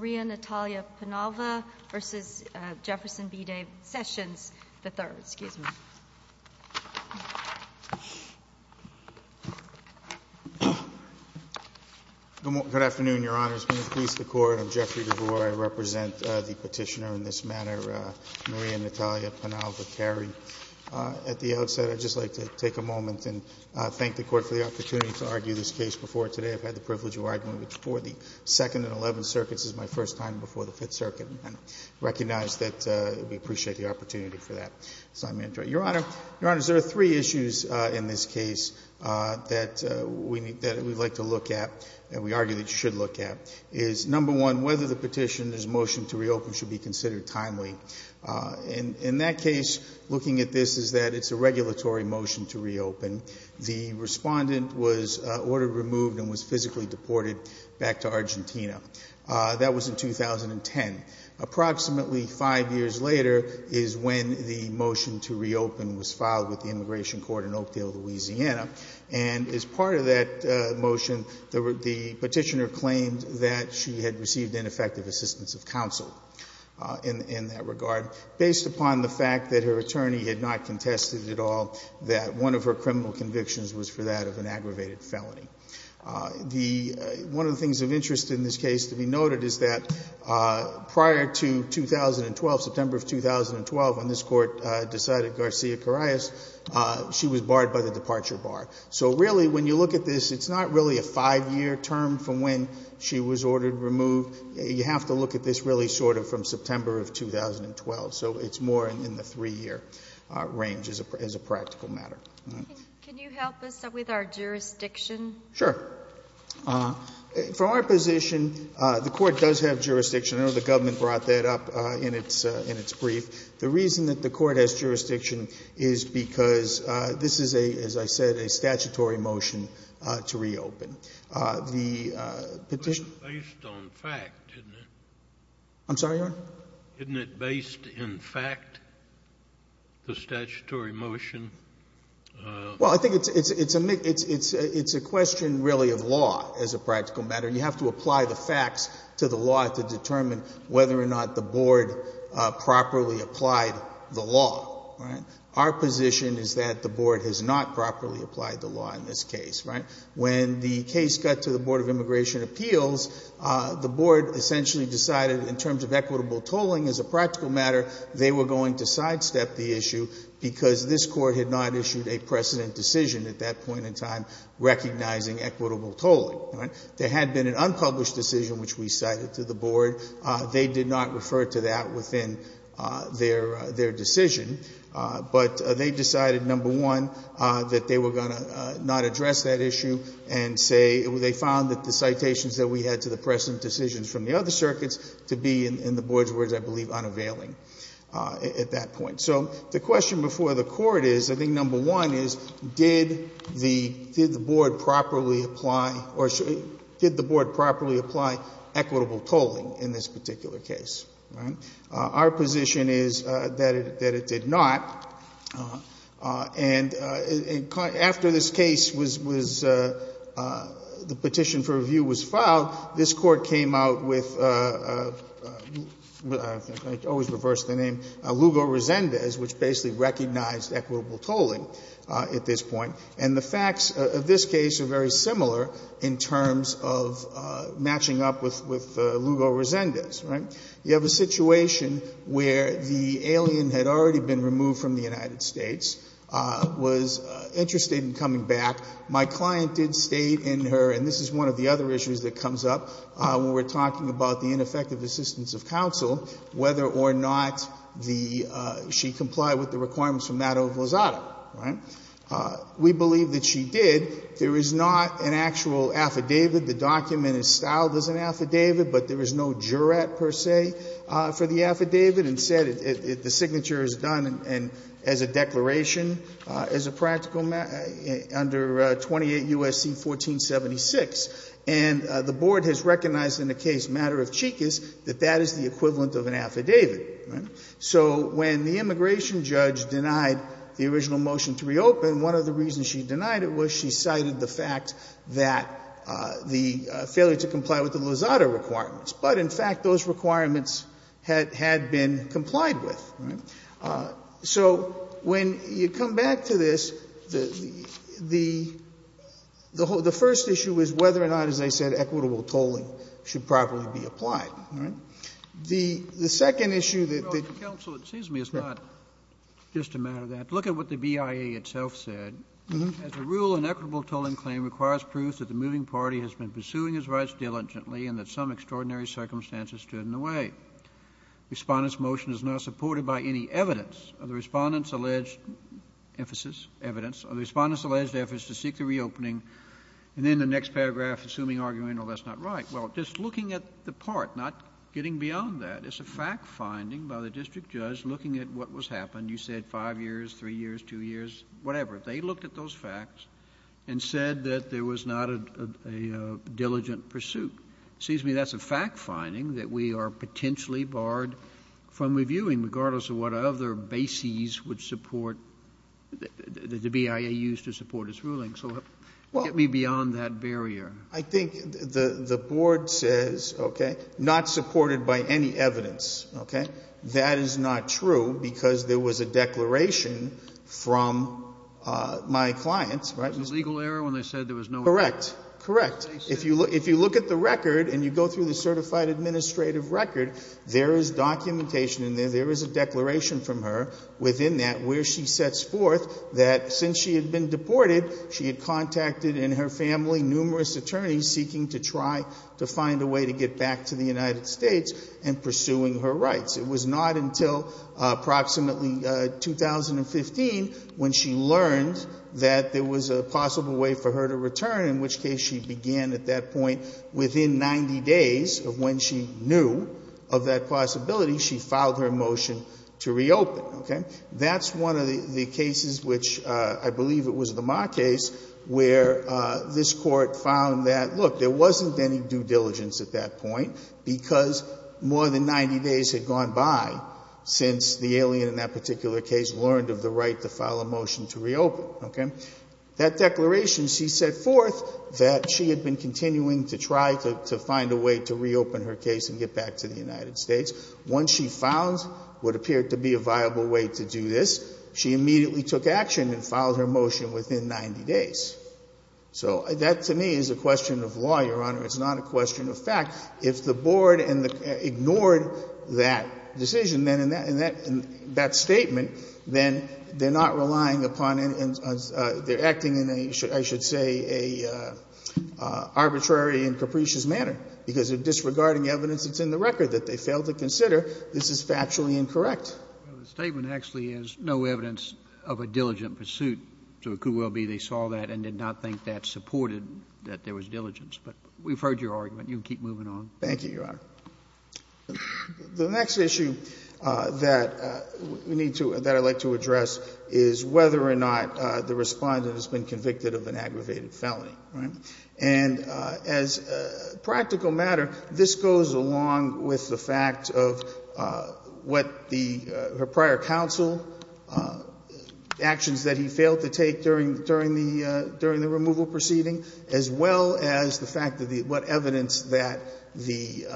Good afternoon, Your Honors. Please, the Court, I'm Jeffrey DeVore. I represent the petitioner in this matter, Maria Natalia Penalva Carey. At the outset, I'd just like to take a moment and thank the Court for the opportunity to argue this case before today. I've had the first time before the Fifth Circuit, and I recognize that we appreciate the opportunity for that. So I'm going to try. Your Honor, Your Honors, there are three issues in this case that we'd like to look at and we argue that you should look at. Number one, whether the petitioner's motion to reopen should be considered timely. In that case, looking at this, is that it's a regulatory motion to reopen. The Respondent was ordered removed and was physically deported back to Approximately five years later is when the motion to reopen was filed with the Immigration Court in Oakdale, Louisiana. And as part of that motion, the petitioner claimed that she had received ineffective assistance of counsel in that regard, based upon the fact that her attorney had not contested at all that one of her criminal convictions was for that of an aggravated felony. One of the things of interest in this case to be noted is that prior to 2012, September of 2012, when this Court decided Garcia-Corayes, she was barred by the departure bar. So really, when you look at this, it's not really a five-year term from when she was ordered removed. You have to look at this really sort of from September of 2012. So it's more in the three-year range as a practical matter. Can you help us with our jurisdiction? Sure. From our position, the Court does have jurisdiction. I know the government brought that up in its brief. The reason that the Court has jurisdiction is because this is, as I said, a statutory motion to reopen. It was based on fact, isn't it? I'm sorry, Your Honor? Isn't it based in fact, the statutory motion? Well, I think it's a question really of law as a practical matter. You have to apply the facts to the law to determine whether or not the Board properly applied the law. Our position is that the Board has not properly applied the law in this case. When the case got to equitable tolling as a practical matter, they were going to sidestep the issue because this Court had not issued a precedent decision at that point in time recognizing equitable tolling. There had been an unpublished decision which we cited to the Board. They did not refer to that within their decision. But they decided, number one, that they were going to not address that issue and say they found that the citations that we had to the precedent decisions from the other circuits to be, in the Board's words, I believe, unavailing at that point. So the question before the Court is, I think number one is, did the Board properly apply equitable tolling in this particular case? Our position is that it did not. And after this case was the petition for review was filed, this Court came out with, I always reverse the name, Lugo-Rosendez, which basically recognized equitable tolling at this point. And the facts of this case are very similar in terms of matching up with Lugo-Rosendez. You have a situation where the alien had already been removed from the United States, was interested in coming back. My client did state in her, and this is one of the other issues that comes up when we're talking about the ineffective assistance of counsel, whether or not the ‑‑ she complied with the requirements from that of Lozada. We believe that she did. There is not an actual affidavit. The document is styled as an affidavit, but there is no jurat, per se, for the affidavit. Instead, the signature is done as a declaration, as a practical matter, under 28 U.S.C. 1476. And the Board has recognized in the case matter of Chikis that that is the equivalent of an affidavit. So when the immigration judge denied the original motion to reopen, one of the reasons she denied it was she cited the fact that the failure to comply with the Lozada requirements. But in fact, those requirements had been complied with, right? So when you come back to this, the first issue is whether or not, as I said, equitable tolling should properly be applied, right? The second issue that ‑‑ Kennedy. Well, counsel, it seems to me it's not just a matter of that. Look at what the BIA itself said. As a rule, an equitable tolling claim requires proof that the moving circumstances stood in the way. The Respondent's motion is not supported by any evidence of the Respondent's alleged emphasis, evidence of the Respondent's alleged efforts to seek the reopening. And then the next paragraph, assuming, arguing, no, that's not right. Well, just looking at the part, not getting beyond that, it's a fact finding by the district judge looking at what was happened. You said five years, three years, two years, whatever. They looked at those facts and said that there was not a diligent pursuit. It seems to me that's a fact finding that we are potentially barred from reviewing, regardless of what other bases would support ‑‑ that the BIA used to support its ruling. So get me beyond that barrier. I think the board says, okay, not supported by any evidence, okay? That is not true, because there was a declaration from my clients, right? There was a legal error when they said there was no ‑‑ Correct. Correct. If you look at the record and you go through the certified administrative record, there is documentation in there. There is a declaration from her within that where she sets forth that since she had been deported, she had contacted in her family numerous attorneys seeking to try to find a way to get back to the United States and pursuing her rights. It was not until approximately 2015 when she learned that there was a possible way for her to return, in which case she began at that point, within 90 days of when she knew of that possibility, she filed her motion to reopen. Okay? That's one of the cases which I believe it was the Ma case where this Court found that, look, there wasn't any due diligence at that point because more than 90 days had gone by since the alien in that particular case learned of the right to file a motion to reopen. Okay? That declaration, she set forth that she had been continuing to try to find a way to reopen her case and get back to the United States. Once she found what appeared to be a viable way to do this, she immediately took action and filed her motion within 90 days. So that, to me, is a question of law, Your Honor. It's not a question of fact. If the Board ignored that decision, then in that statement, then they're not relying upon any of the — they're acting in a, I should say, an arbitrary and capricious manner, because they're disregarding evidence that's in the record that they failed to consider. This is factually incorrect. The statement actually has no evidence of a diligent pursuit. So it could well be they saw that and did not think that supported that there was diligence. But we've heard your argument. You can keep moving on. Thank you, Your Honor. The next issue that we need to — that I'd like to address is whether or not the respondent has been convicted of an aggravated felony. And as a practical matter, this goes along with the fact of what the — her prior counsel, actions that he failed to take during the removal proceeding, as well as the fact of the — what the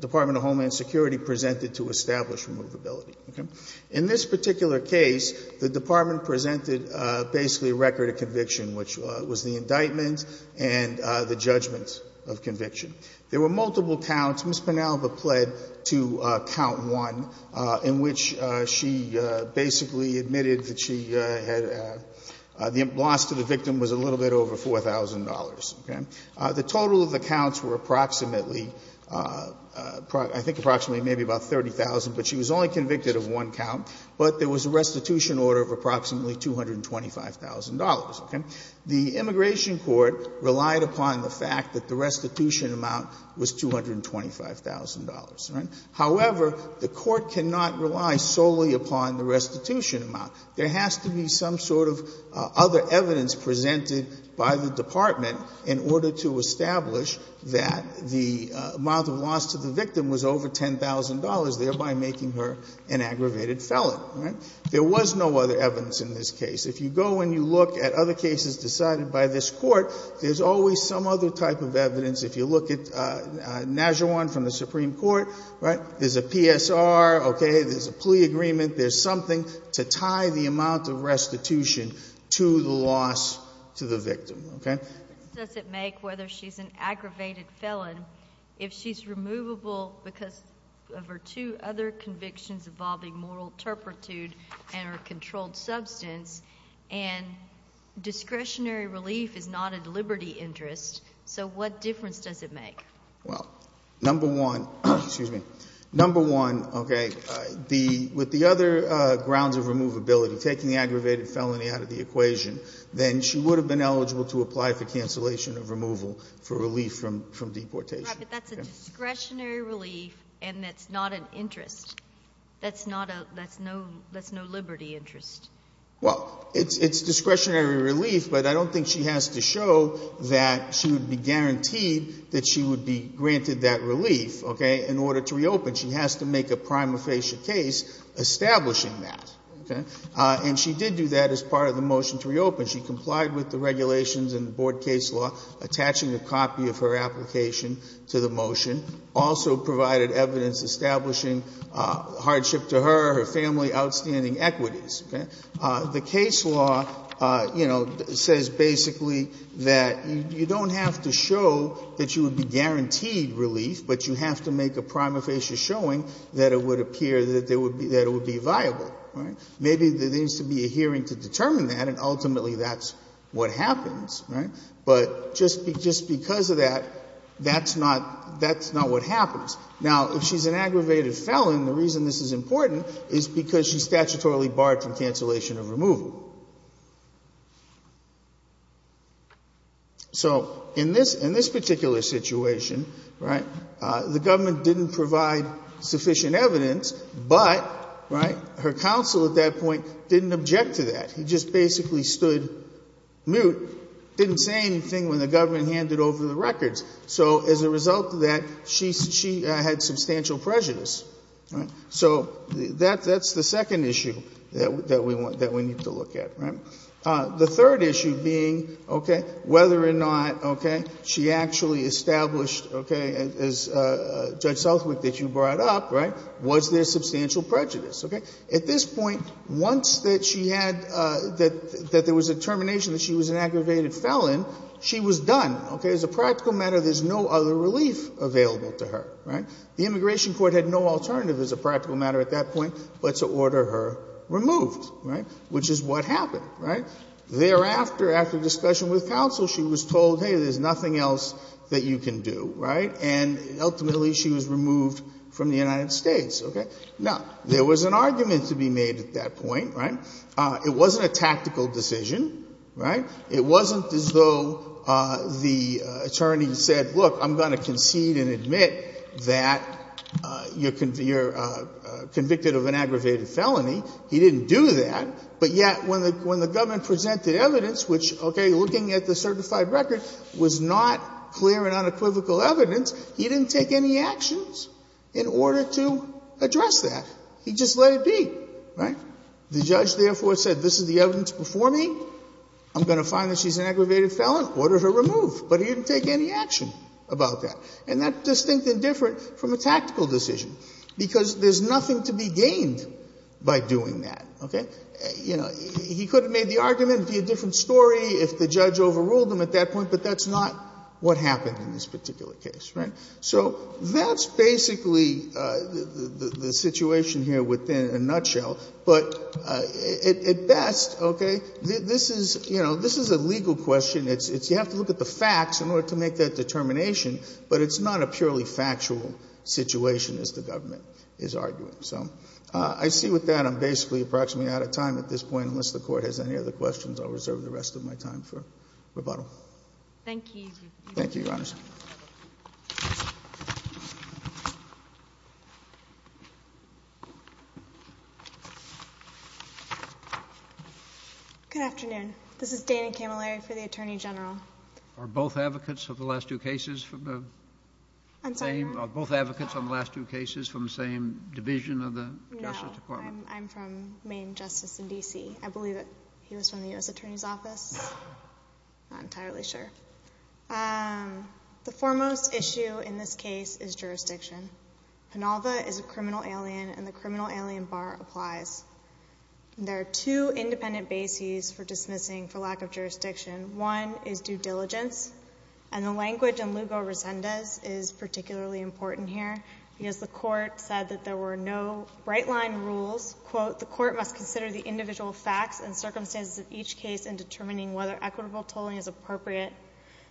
Department of Homeland Security presented to establish removability. Okay? In this particular case, the Department presented basically a record of conviction, which was the indictment and the judgment of conviction. There were multiple counts. Ms. Penalva pled to count one, in which she basically admitted that she had — the loss to the victim was a little bit over $4,000. Okay? The total of the counts were approximately — I think approximately maybe about 30,000, but she was only convicted of one count. But there was a restitution order of approximately $225,000. Okay? The immigration court relied upon the fact that the restitution amount was $225,000. All right? However, the court cannot rely solely upon the restitution amount. There has to be some sort of other evidence presented by the department in order to establish that the amount of loss to the victim was over $10,000, thereby making her an aggravated felon. All right? There was no other evidence in this case. If you go and you look at other cases decided by this court, there's always some other type of evidence. If you look at Najuan from the Supreme Court, right, there's a PSR, okay, there's a plea agreement, there's something to tie the amount of restitution to the loss to the victim. Okay? What difference does it make whether she's an aggravated felon if she's removable because of her two other convictions involving moral turpitude and her controlled substance and discretionary relief is not a liberty interest? So what difference does it make? Well, number one, excuse me, number one, okay, with the other grounds of removability, taking the aggravated felony out of the equation, then she would have been eligible to apply for cancellation of removal for relief from deportation. Right, but that's a discretionary relief and that's not an interest. That's not a, that's no, that's no liberty interest. Well, it's discretionary relief, but I don't think she has to show that she would be guaranteed that she would be granted that relief, okay, in order to reopen. She has to make a prima facie case establishing that. Okay? And she did do that as part of the motion to reopen. She complied with the regulations and the board case law, attaching a copy of her application to the motion, also provided evidence establishing hardship to her, her family, outstanding equities. Okay? The case law, you know, says basically that you don't have to show that you would be guaranteed relief, but you have to make a prima facie showing that it would appear that there would be, that it would be viable, right? Maybe there needs to be a hearing to determine that, and ultimately that's what happens, right? But just because of that, that's not, that's not what happens. Now, if she's an aggravated felon, the reason this is important is because she's So in this, in this particular situation, right, the government didn't provide sufficient evidence, but, right, her counsel at that point didn't object to that. He just basically stood mute, didn't say anything when the government handed over the records. So as a result of that, she, she had substantial prejudice, right? So that, that's the second issue that we want, that we need to look at, right? The third issue being, okay, whether or not, okay, she actually established, okay, as Judge Southwick, that you brought up, right, was there substantial prejudice, okay? At this point, once that she had, that, that there was a determination that she was an aggravated felon, she was done, okay? As a practical matter, there's no other relief available to her, right? The immigration court had no alternative as a practical matter at that point, but to order her removed, right? Which is what happened, right? Thereafter, after discussion with counsel, she was told, hey, there's nothing else that you can do, right? And ultimately, she was removed from the United States, okay? Now, there was an argument to be made at that point, right? It wasn't a tactical decision, right? It wasn't as though the attorney said, look, I'm going to concede and admit that you're convicted of an aggravated felony. He didn't do that. But yet, when the, when the government presented evidence, which, okay, looking at the certified record, was not clear and unequivocal evidence, he didn't take any actions in order to address that. He just let it be, right? The judge, therefore, said, this is the evidence before me. I'm going to find that she's an aggravated felon, order her removed. And that's distinct and different from a tactical decision, because there's nothing to be gained by doing that, okay? You know, he could have made the argument and it would be a different story if the judge overruled him at that point, but that's not what happened in this particular case, right? So that's basically the situation here within a nutshell. But at best, okay, this is, you know, this is a legal question. It's, you have to look at the facts in order to make that determination. But it's not a purely factual situation, as the government is arguing. So I see with that, I'm basically approximately out of time at this point. Unless the Court has any other questions, I'll reserve the rest of my time for rebuttal. Thank you. Thank you, Your Honors. Good afternoon. This is Dana Camilleri for the Attorney General. Are both advocates of the last two cases from the same division of the Justice Department? No. I'm from Maine Justice in D.C. I believe that he was from the U.S. Attorney's Office. Not entirely sure. The foremost issue in this case is jurisdiction. Penalva is a criminal alien and the criminal alien bar applies. There are two independent bases for dismissing for lack of jurisdiction. One is due diligence, and the language in Lugo-Resendez is particularly important here, because the Court said that there were no right-line rules. Quote, the Court must consider the individual facts and determining whether equitable tolling is appropriate.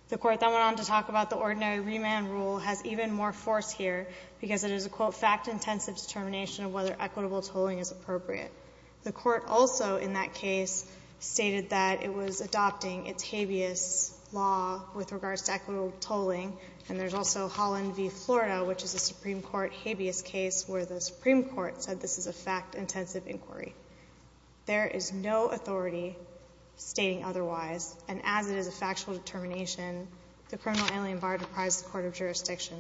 The Court then went on to talk about the ordinary remand rule has even more force here, because it is a, quote, fact-intensive determination of whether equitable tolling is appropriate. The Court also, in that case, stated that it was adopting its habeas law with regards to equitable tolling, and there's also Holland v. Florida, which is a Supreme Court habeas case where the Supreme Court has no authority stating otherwise. And as it is a factual determination, the criminal alien bar deprives the court of jurisdiction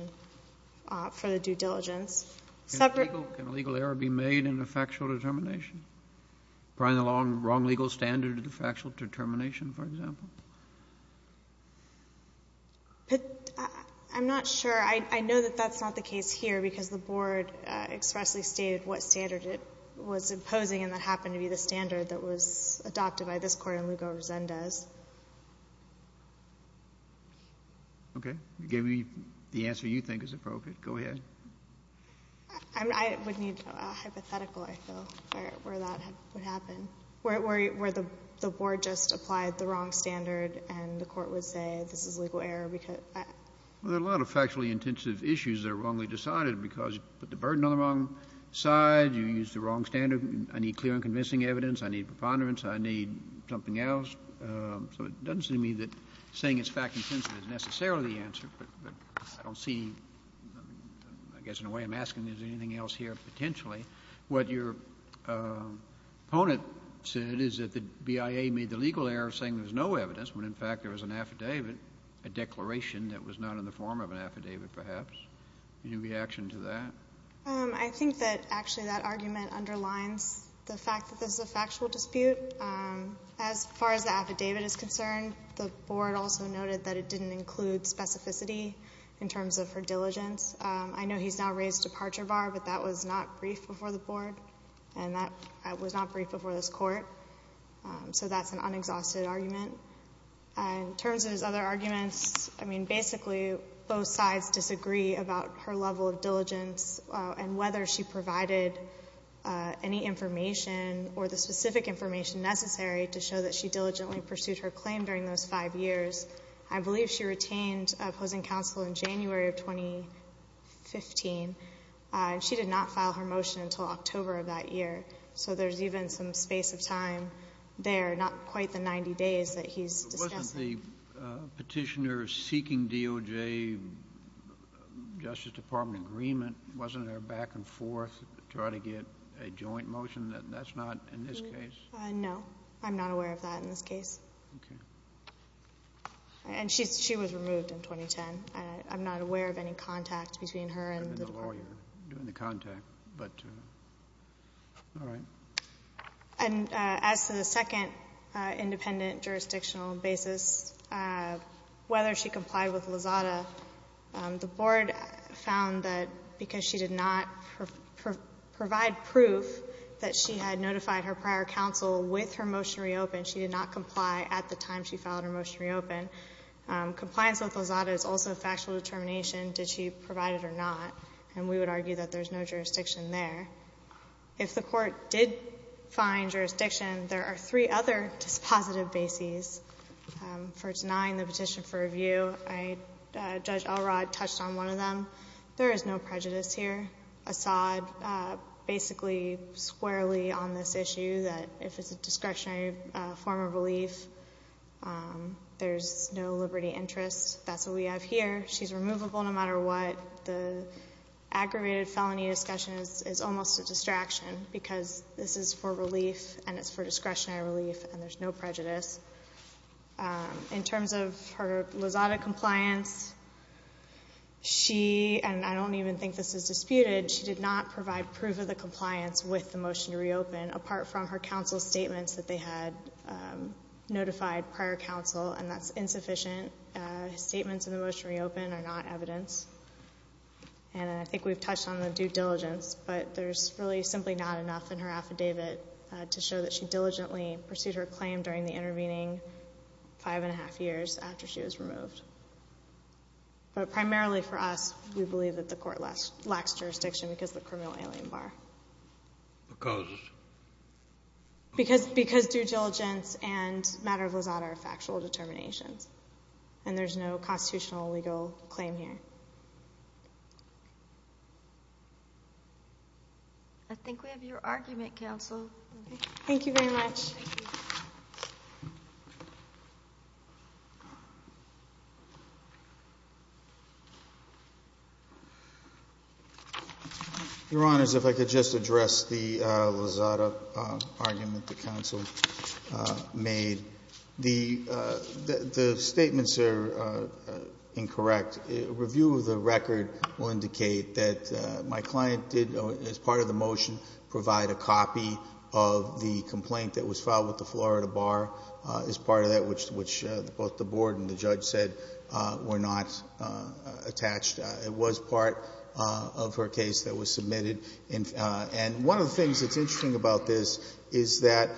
for the due diligence. Can a legal error be made in a factual determination? Bring along the wrong legal standard to the factual determination, for example? I'm not sure. I know that that's not the case here, because the Board expressly stated what standard it was imposing and that happened to be the standard that was adopted by this Court in Lugo-Resendez. Okay. Give me the answer you think is appropriate. Go ahead. I would need a hypothetical, I feel, where that would happen, where the Board just applied the wrong standard and the Court would say this is a legal error. Well, there are a lot of factually intensive issues that are wrongly decided because you put the burden on the wrong side, you use the wrong standard, I need clear and convincing evidence, I need preponderance, I need something else. So it doesn't seem to me that saying it's fact-intensive is necessarily the answer, but I don't see, I guess in a way I'm asking if there's anything else here potentially. What your opponent said is that the BIA made the legal error of saying there was no evidence when in fact there was an affidavit, a declaration that was not in the form of an affidavit, perhaps. Any reaction to that? I think that actually that argument underlines the fact that this is a factual dispute. As far as the affidavit is concerned, the Board also noted that it didn't include specificity in terms of her diligence. I know he's now raised departure bar, but that was not brief before this court. So that's an unexhausted argument. In terms of his other arguments, I mean basically both sides disagree about her level of diligence and whether she provided any information or the specific information necessary to show that she diligently pursued her claim during those five years. I believe she retained opposing counsel in January of 2015. She did not file her motion until October of that year. So there's even some space of time there, not quite the 90 days that he's discussing. Wasn't the petitioner seeking DOJ Justice Department agreement, wasn't there a back and forth to try to get a joint motion? That's not in this case? No. I'm not aware of that in this case. And she was removed in 2010. I'm not aware of any contact between her and the Department. And as to the second independent jurisdictional basis, whether she complied with Lazada, the Board found that because she did not provide proof that she had notified her prior counsel with her motion reopened, she did not comply at the time she filed her motion reopened. Compliance with Lazada is also factual determination. Did she provide it or not? And we would argue that there's no jurisdiction there. If the Court did find jurisdiction, there are three other dispositive bases for denying the petition for review. Judge Elrod touched on one of them. There is no prejudice here. Assad basically squarely on this issue that if it's a discretionary form of relief, there's no liberty interest. That's what we have here. She's removable no matter what. The aggravated felony discussion is almost a distraction because this is for relief and it's for discretionary relief and there's no prejudice. In terms of her Lazada compliance, she, and I don't even think this is disputed, she did not provide proof of the compliance with the motion to reopen apart from her counsel's statements that they had notified prior counsel and that's insufficient. Statements in the motion to reopen are not evidence. And I think we've touched on the due diligence, but there's really simply not enough in her affidavit to show that she diligently pursued her claim during the intervening five and a half years after she was removed. But primarily for us, we believe that the Court lacks jurisdiction because of the criminal alien bar. Because? Because due diligence and matter of Lazada are factual determinations and there's no constitutional legal claim here. I think we have your argument, counsel. Thank you very much. Your Honor, if I could just address the Lazada argument the counsel made. The record will indicate that my client did, as part of the motion, provide a copy of the complaint that was filed with the Florida Bar as part of that which both the Board and the judge said were not attached. It was part of her case that was submitted. And one of the things that's interesting about this is that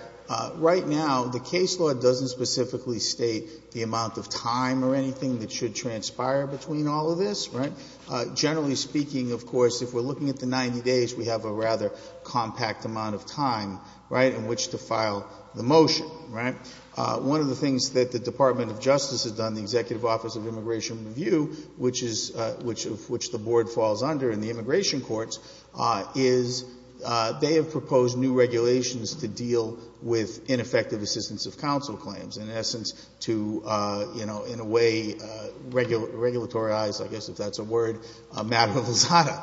right now the case law doesn't specifically state the amount of time or anything that should transpire between all of this. Generally speaking, of course, if we're looking at the 90 days, we have a rather compact amount of time in which to file the motion. One of the things that the Department of Justice has done, the Executive Office of Immigration Review, which the Board falls under in the immigration courts, is they have proposed new regulations to deal with ineffective assistance of counsel claims, in essence, to in a way, regulatoryize, I guess if that's a word, a matter of Lazada.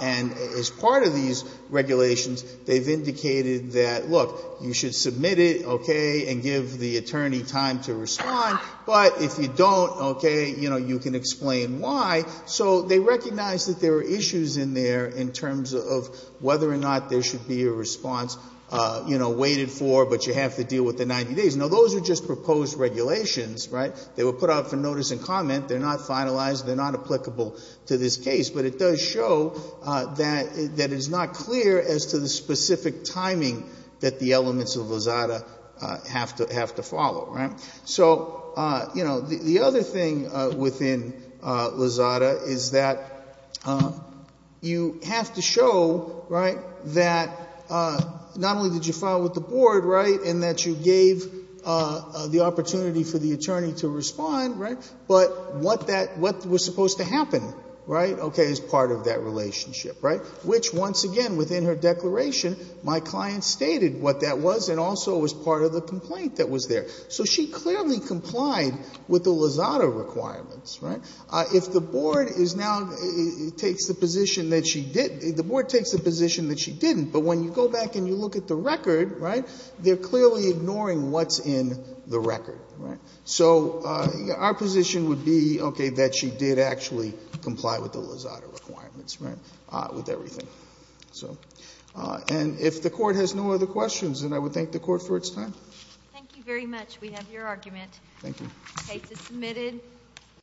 And as part of these regulations, they've indicated that, look, you should submit it, okay, and give the attorney time to respond. But if you don't, okay, you can explain why. So they recognize that there are issues in there in terms of whether or not there should be a response waited for, but you have to deal with the 90 days. Now, those are just proposed regulations, right? They were put out for notice and comment. They're not finalized. They're not applicable to this case. But it does show that it's not clear as to the specific timing that the elements of Lazada have to follow, right? So, you know, the other thing within Lazada is that you have to show, right, that not only did you file with the Board, right, and that you gave the opportunity for the attorney to respond, right, but what was supposed to happen, right, okay, is part of that relationship, right? Which, once again, within her declaration, my client stated what that was and also was part of the complaint that was there. So she clearly complied with the Lazada requirements, right? If the Board is now takes the position that she didn't, the Board takes the position that she didn't, but when you go back and you look at the record, right, they're clearly ignoring what's in the record, right? So our position would be, okay, that she did actually comply with the Lazada requirements, right, with everything. And if the Court has no other questions, then I would thank the Court for its time. Thank you very much. We have your argument. Thank you. The case is submitted.